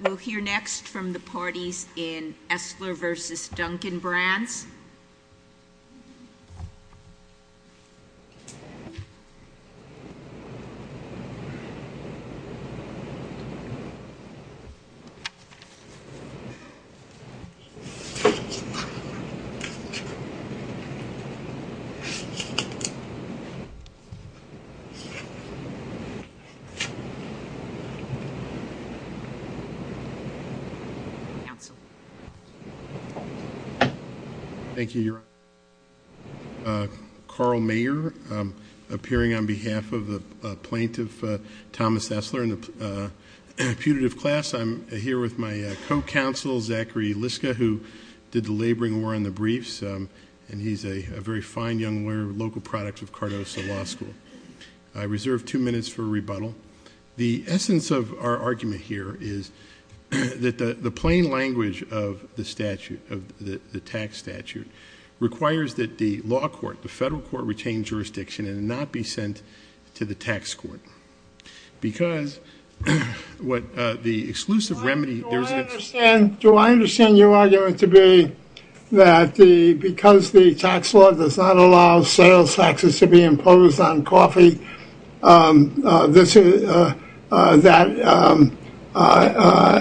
We'll hear next from the parties in Esler v. Dunkin' Brands. Thank you, Your Honor. Carl Mayer, appearing on behalf of the plaintiff, Thomas Esler, in the putative class. I'm here with my co-counsel, Zachary Liska, who did the laboring war on the briefs, and he's a very fine young lawyer, local product of Cardoso Law School. I reserve two minutes for rebuttal. The essence of our argument here is that the plain language of the statute, of the tax statute, requires that the law court, the federal court, retain jurisdiction and not be sent to the tax court. Because what the exclusive remedy... Do I understand your argument to be that because the tax law does not allow sales taxes to be imposed on coffee, that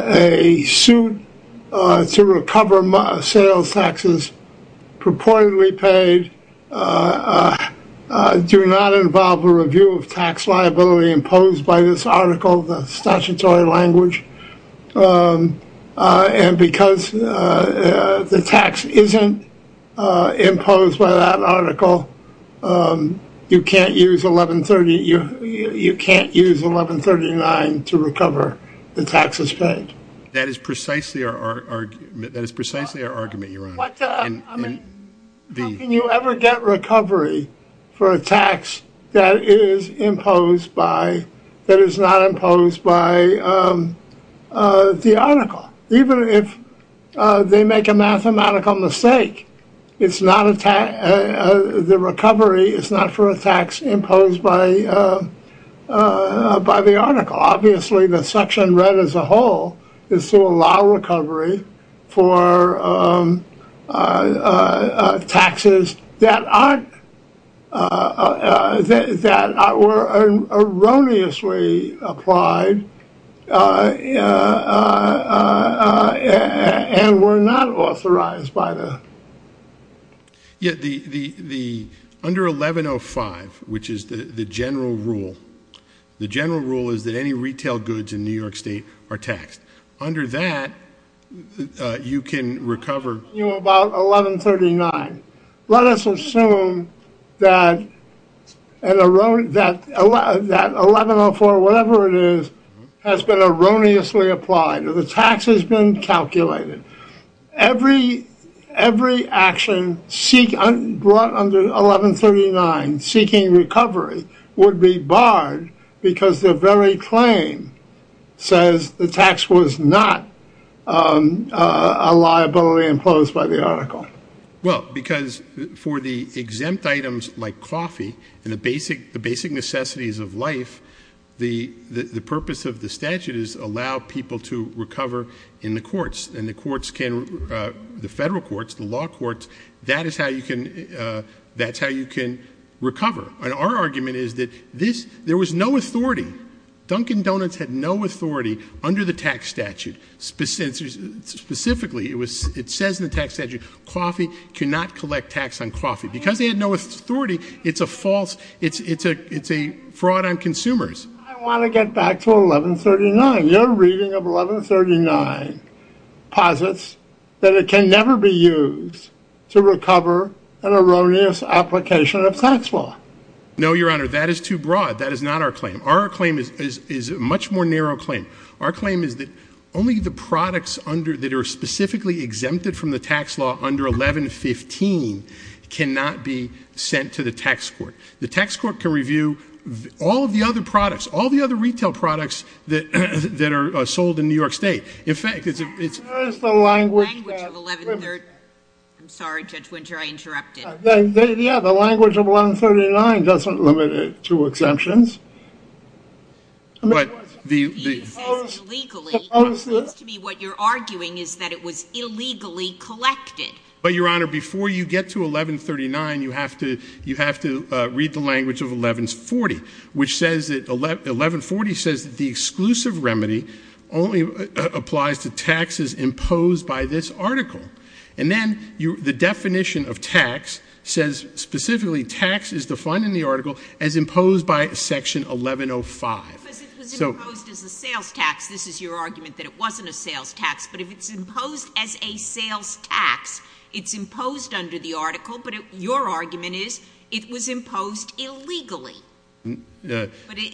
a suit to recover sales taxes purportedly paid do not involve a review of tax liability imposed by this article, the statutory language, and because the tax isn't imposed by that article, you can't use 1139 to recover the taxes paid? That is precisely our argument, Your Honor. How can you ever get recovery for a tax that is not imposed by the article? Even if they make a mathematical mistake, the recovery is not for a tax imposed by the article. Obviously, the section read as a whole is to allow recovery for taxes that were erroneously applied and were not authorized by the... Under 1105, which is the general rule, the general rule is that any retail goods in New York State are taxed. Under that, you can recover... About 1139. Let us assume that 1104, whatever it is, has been erroneously applied. The tax has been calculated. Every action brought under 1139 seeking recovery would be barred because the very claim says the tax was not a liability imposed by the article. Well, because for the exempt items like coffee and the basic necessities of life, the purpose of the statute is to allow people to recover in the courts. In the courts, the federal courts, the law courts, that is how you can recover. Our argument is that there was no authority. Dunkin' Donuts had no authority under the tax statute. Specifically, it says in the tax statute, coffee cannot collect tax on coffee. Because they had no authority, it's a fraud on consumers. I want to get back to 1139. Your reading of 1139 posits that it can never be used to recover an erroneous application of tax law. No, Your Honor, that is too broad. That is not our claim. Our claim is a much more narrow claim. Our claim is that only the products that are specifically exempted from the tax law under 1115 cannot be sent to the tax court. The tax court can review all of the other products, all of the other retail products that are sold in New York State. In fact, it's... Where is the language of 1139? I'm sorry, Judge Winter, I interrupted. Yeah, the language of 1139 doesn't limit it to exemptions. He says illegally. It seems to me what you're arguing is that it was illegally collected. But, Your Honor, before you get to 1139, you have to read the language of 1140, which says that... 1140 says that the exclusive remedy only applies to taxes imposed by this article. And then the definition of tax says specifically tax is defined in the article as imposed by section 1105. Because it was imposed as a sales tax. This is your argument that it wasn't a sales tax. But if it's imposed as a sales tax, it's imposed under the article. But your argument is it was imposed illegally. But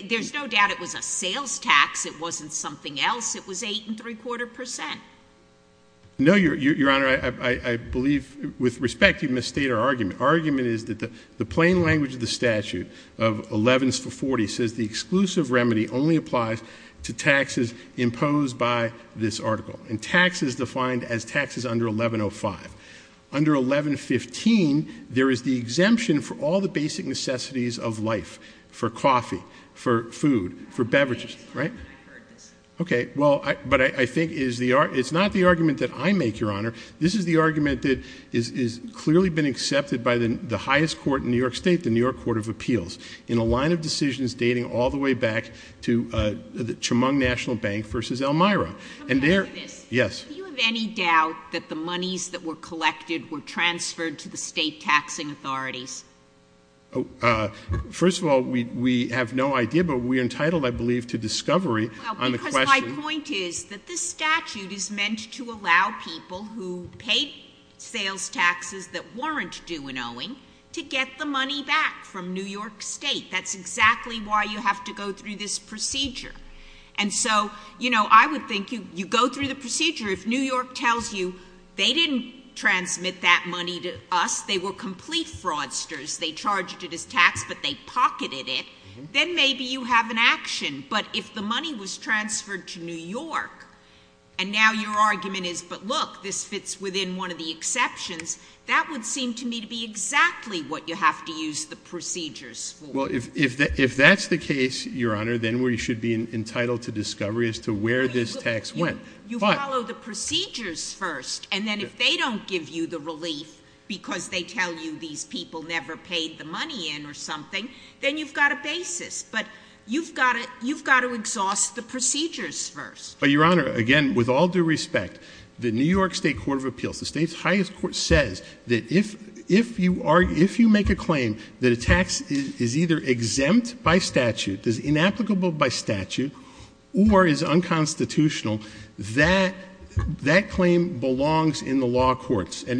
there's no doubt it was a sales tax. It wasn't something else. It was 8.75%. No, Your Honor, I believe with respect you've misstated our argument. Our argument is that the plain language of the statute of 1140 says the exclusive remedy only applies to taxes imposed by this article. And tax is defined as taxes under 1105. Under 1115, there is the exemption for all the basic necessities of life. For coffee. For food. For beverages. Right? I heard this. Okay. Well, but I think it's not the argument that I make, Your Honor. This is the argument that has clearly been accepted by the highest court in New York State, the New York Court of Appeals. In a line of decisions dating all the way back to the Chemung National Bank versus Elmira. Come back to this. Yes. Do you have any doubt that the monies that were collected were transferred to the state taxing authorities? First of all, we have no idea. But we are entitled, I believe, to discovery on the question. Well, because my point is that this statute is meant to allow people who paid sales taxes that weren't due in owing to get the money back from New York State. That's exactly why you have to go through this procedure. And so, you know, I would think you go through the procedure. If New York tells you they didn't transmit that money to us, they were complete fraudsters. They charged it as tax, but they pocketed it. Then maybe you have an action. But if the money was transferred to New York, and now your argument is, but look, this fits within one of the exceptions, that would seem to me to be exactly what you have to use the procedures for. Well, if that's the case, Your Honor, then we should be entitled to discovery as to where this tax went. You follow the procedures first. And then if they don't give you the relief because they tell you these people never paid the money in or something, then you've got a basis. But you've got to exhaust the procedures first. Your Honor, again, with all due respect, the New York State Court of Appeals, the state's highest court, says that if you make a claim that a tax is either exempt by statute, is inapplicable by statute, or is unconstitutional, that claim belongs in the law courts. And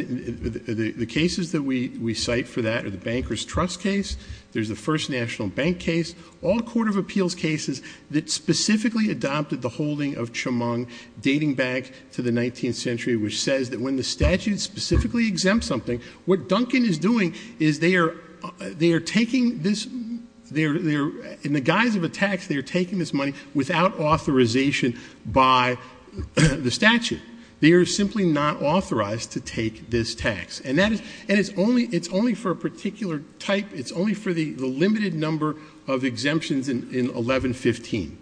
the cases that we cite for that are the Banker's Trust case. There's the First National Bank case. All Court of Appeals cases that specifically adopted the holding of Chemung dating back to the 19th century, which says that when the statute specifically exempts something, what Duncan is doing is they are taking this, in the guise of a tax, they are taking this money without authorization by the statute. They are simply not authorized to take this tax. And it's only for a particular type. It's only for the limited number of exemptions in 1115.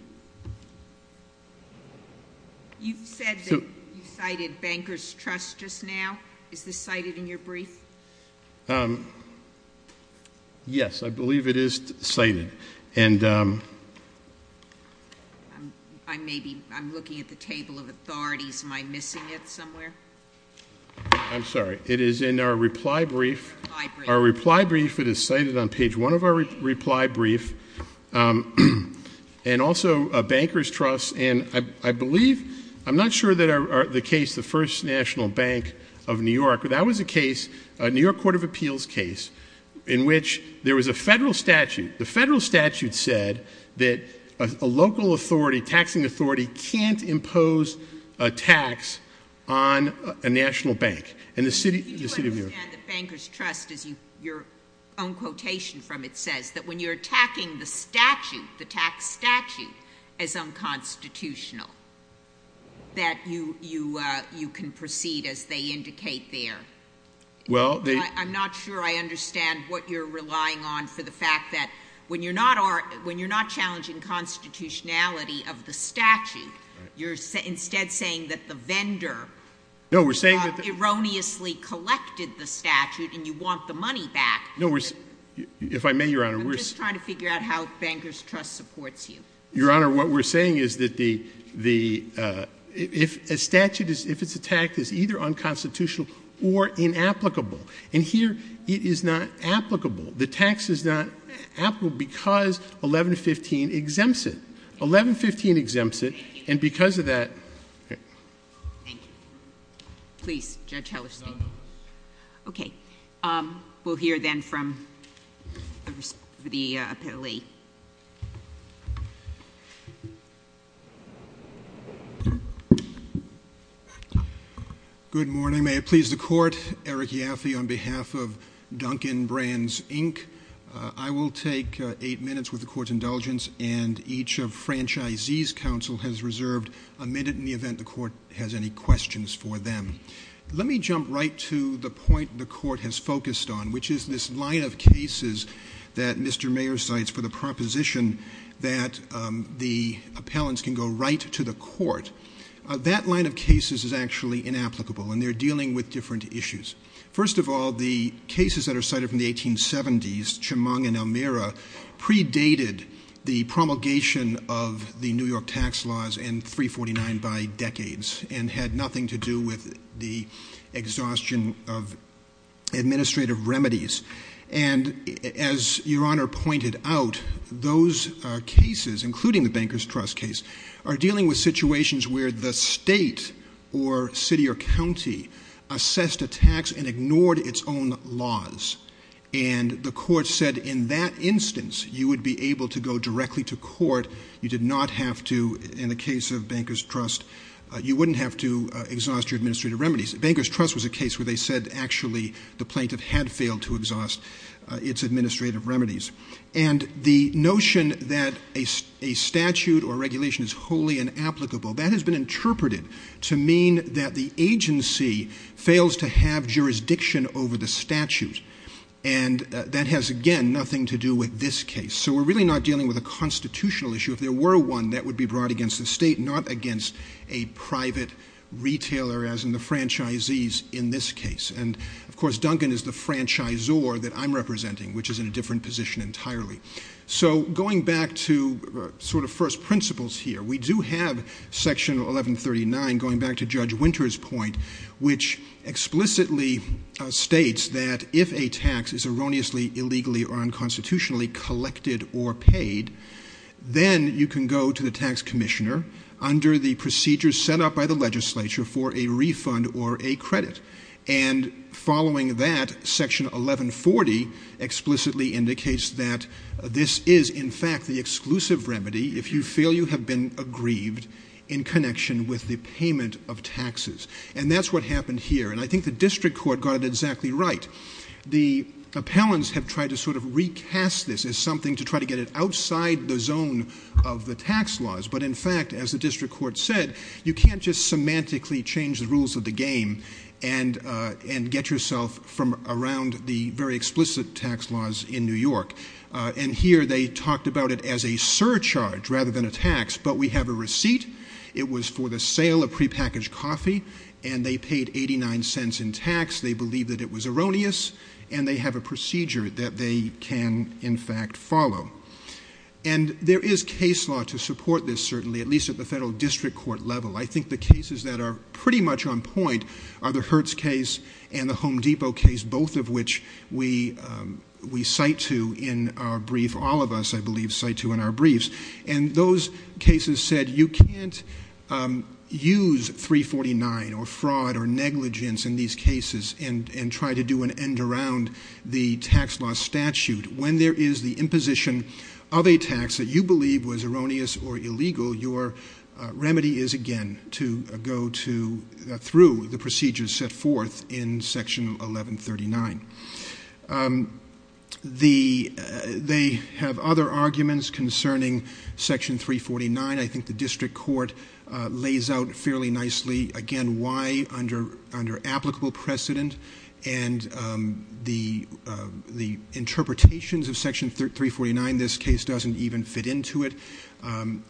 You said that you cited Banker's Trust just now. Is this cited in your brief? Yes, I believe it is cited. And- I'm looking at the table of authorities. Am I missing it somewhere? I'm sorry. It is in our reply brief. Our reply brief, it is cited on page one of our reply brief. And also Banker's Trust, and I believe, I'm not sure that the case, the First National Bank of New York, but that was a case, a New York Court of Appeals case, in which there was a federal statute. The federal statute said that a local authority, taxing authority, can't impose a tax on a national bank. And the city of New York- the tax statute as unconstitutional, that you can proceed as they indicate there. I'm not sure I understand what you're relying on for the fact that when you're not challenging constitutionality of the statute, you're instead saying that the vendor erroneously collected the statute and you want the money back. If I may, Your Honor, we're- I'm trying to figure out how Banker's Trust supports you. Your Honor, what we're saying is that the- if a statute is, if it's a tax, it's either unconstitutional or inapplicable. And here, it is not applicable. The tax is not applicable because 1115 exempts it. 1115 exempts it, and because of that- Thank you. Please, Judge Hellerstein. No, no. Okay. We'll hear then from the appellee. Good morning. May it please the Court. Eric Yaffe on behalf of Duncan Brands, Inc. I will take eight minutes with the Court's indulgence, and each of Franchisee's counsel has reserved a minute in the event the Court has any questions for them. Let me jump right to the point the Court has focused on, which is this line of cases that Mr. Mayer cites for the proposition that the appellants can go right to the Court. That line of cases is actually inapplicable, and they're dealing with different issues. First of all, the cases that are cited from the 1870s, Chemung and Elmira, predated the promulgation of the New York tax laws in 349 by decades and had nothing to do with the exhaustion of administrative remedies. And as Your Honor pointed out, those cases, including the Banker's Trust case, are dealing with situations where the state or city or county assessed a tax and ignored its own laws. And the Court said in that instance you would be able to go directly to court. You did not have to, in the case of Banker's Trust, you wouldn't have to exhaust your administrative remedies. Banker's Trust was a case where they said actually the plaintiff had failed to exhaust its administrative remedies. And the notion that a statute or regulation is wholly inapplicable, that has been interpreted to mean that the agency fails to have jurisdiction over the statute. And that has, again, nothing to do with this case. So we're really not dealing with a constitutional issue. If there were one, that would be brought against the state, not against a private retailer, as in the franchisees in this case. And, of course, Duncan is the franchisor that I'm representing, which is in a different position entirely. So going back to sort of first principles here, we do have Section 1139, going back to Judge Winter's point, which explicitly states that if a tax is erroneously, illegally, or unconstitutionally collected or paid, then you can go to the tax commissioner under the procedures set up by the legislature for a refund or a credit. And following that, Section 1140 explicitly indicates that this is, in fact, the exclusive remedy if you feel you have been aggrieved in connection with the payment of taxes. And that's what happened here. And I think the district court got it exactly right. The appellants have tried to sort of recast this as something to try to get it outside the zone of the tax laws. But, in fact, as the district court said, you can't just semantically change the rules of the game and get yourself from around the very explicit tax laws in New York. And here they talked about it as a surcharge rather than a tax, but we have a receipt. It was for the sale of prepackaged coffee, and they paid 89 cents in tax. They believed that it was erroneous, and they have a procedure that they can, in fact, follow. And there is case law to support this, certainly, at least at the federal district court level. I think the cases that are pretty much on point are the Hertz case and the Home Depot case, both of which we cite to in our brief. All of us, I believe, cite to in our briefs. And those cases said you can't use 349 or fraud or negligence in these cases and try to do an end around the tax law statute. When there is the imposition of a tax that you believe was erroneous or illegal, your remedy is, again, to go through the procedures set forth in Section 1139. They have other arguments concerning Section 349. I think the district court lays out fairly nicely, again, why under applicable precedent and the interpretations of Section 349 this case doesn't even fit into it. And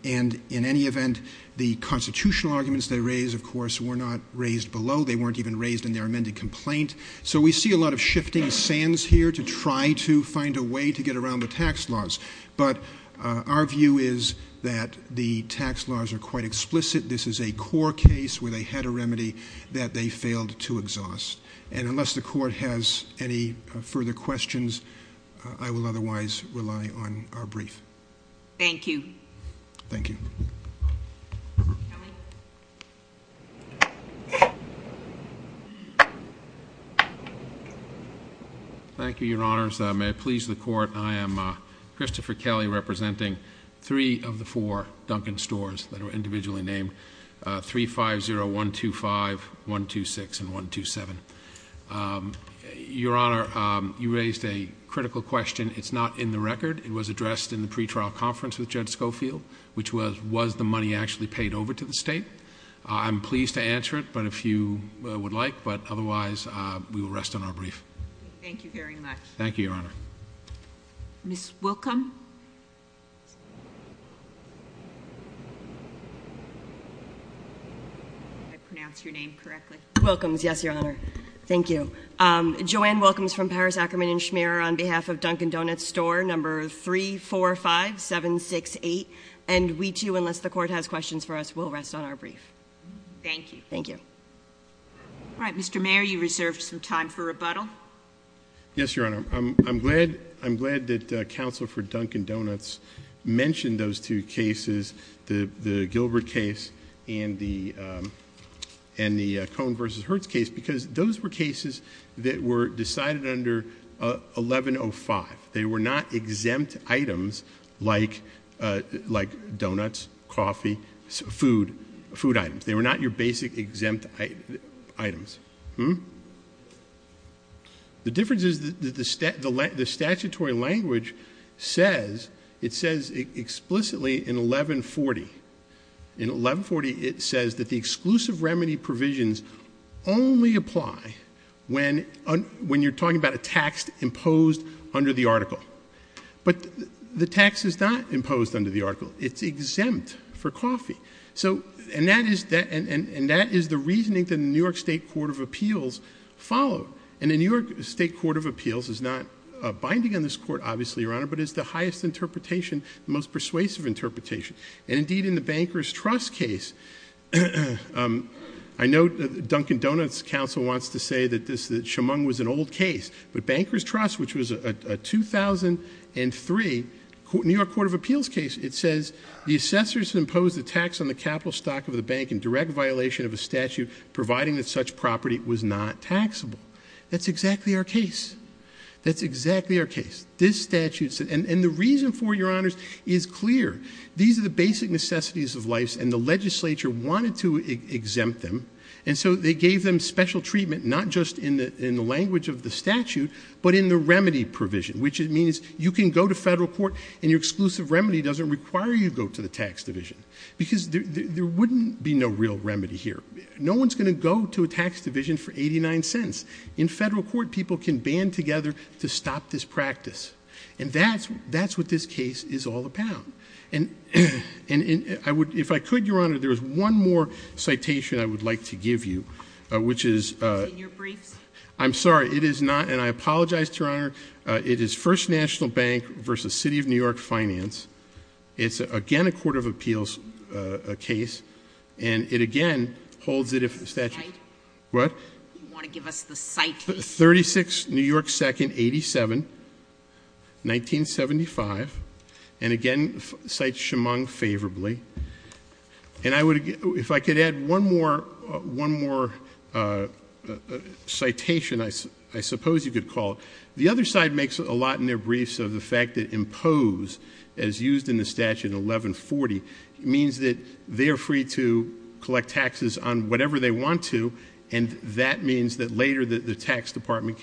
in any event, the constitutional arguments they raise, of course, were not raised below. They weren't even raised in their amended complaint. So we see a lot of shifting sands here to try to find a way to get around the tax laws. But our view is that the tax laws are quite explicit. This is a core case where they had a remedy that they failed to exhaust. And unless the court has any further questions, I will otherwise rely on our brief. Thank you. Thank you. Thank you, Your Honors. May it please the Court, I am Christopher Kelly representing three of the four Duncan stores that are individually named, 350125, 126, and 127. Your Honor, you raised a critical question. It's not in the record. It was addressed in the pretrial conference with Judge Schofield, which was, was the money actually paid over to the state? I'm pleased to answer it, but if you would like. But otherwise, we will rest on our brief. Thank you very much. Thank you, Your Honor. Ms. Wilkham? Did I pronounce your name correctly? Wilkham, yes, Your Honor. Thank you. Joanne Wilkham is from Paris Ackerman & Schmierer on behalf of Duncan Donuts store number 345768. And we too, unless the Court has questions for us, we'll rest on our brief. Thank you. Thank you. All right, Mr. Mayor, you reserved some time for rebuttal. Yes, Your Honor. I'm glad, I'm glad that Counsel for Duncan Donuts mentioned those two cases, the Gilbert case and the Cohn v. Hertz case, because those were cases that were decided under 1105. They were not exempt items like donuts, coffee, food items. They were not your basic exempt items. The difference is the statutory language says, it says explicitly in 1140, in 1140 it says that the exclusive remedy provisions only apply when you're talking about a tax imposed under the article. But the tax is not imposed under the article. It's exempt for coffee. And that is the reasoning that the New York State Court of Appeals followed. And the New York State Court of Appeals is not binding on this court, obviously, Your Honor, but it's the highest interpretation, the most persuasive interpretation. And, indeed, in the Banker's Trust case, I know that Duncan Donuts' counsel wants to say that Schamung was an old case, but Banker's Trust, which was a 2003 New York Court of Appeals case, it says the assessor has imposed a tax on the capital stock of the bank in direct violation of a statute, providing that such property was not taxable. That's exactly our case. That's exactly our case. And the reason for it, Your Honors, is clear. These are the basic necessities of life, and the legislature wanted to exempt them, and so they gave them special treatment not just in the language of the statute but in the remedy provision, which means you can go to federal court and your exclusive remedy doesn't require you to go to the tax division because there wouldn't be no real remedy here. No one's going to go to a tax division for 89 cents. In federal court, people can band together to stop this practice. And that's what this case is all about. And if I could, Your Honor, there's one more citation I would like to give you, which is... It's in your briefs. I'm sorry. It is not, and I apologize to Your Honor. It is First National Bank v. City of New York Finance. It's, again, a Court of Appeals case, and it, again, holds it if the statute... What? You want to give us the citation? 36, New York 2nd, 87, 1975. And, again, cites Chemung favorably. And if I could add one more citation, I suppose you could call it. The other side makes a lot in their briefs of the fact that impose, as used in the statute, 1140, means that they are free to collect taxes on whatever they want to, and that means that later the tax department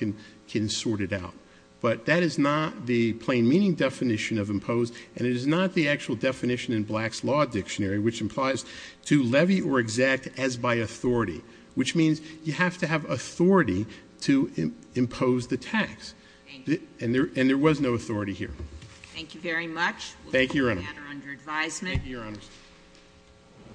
can sort it out. But that is not the plain meaning definition of impose, and it is not the actual definition in Black's Law Dictionary, which implies to levy or exact as by authority, which means you have to have authority to impose the tax. And there was no authority here. Thank you very much. Thank you, Your Honor. Thank you, Your Honor. Thank you, Your Honor.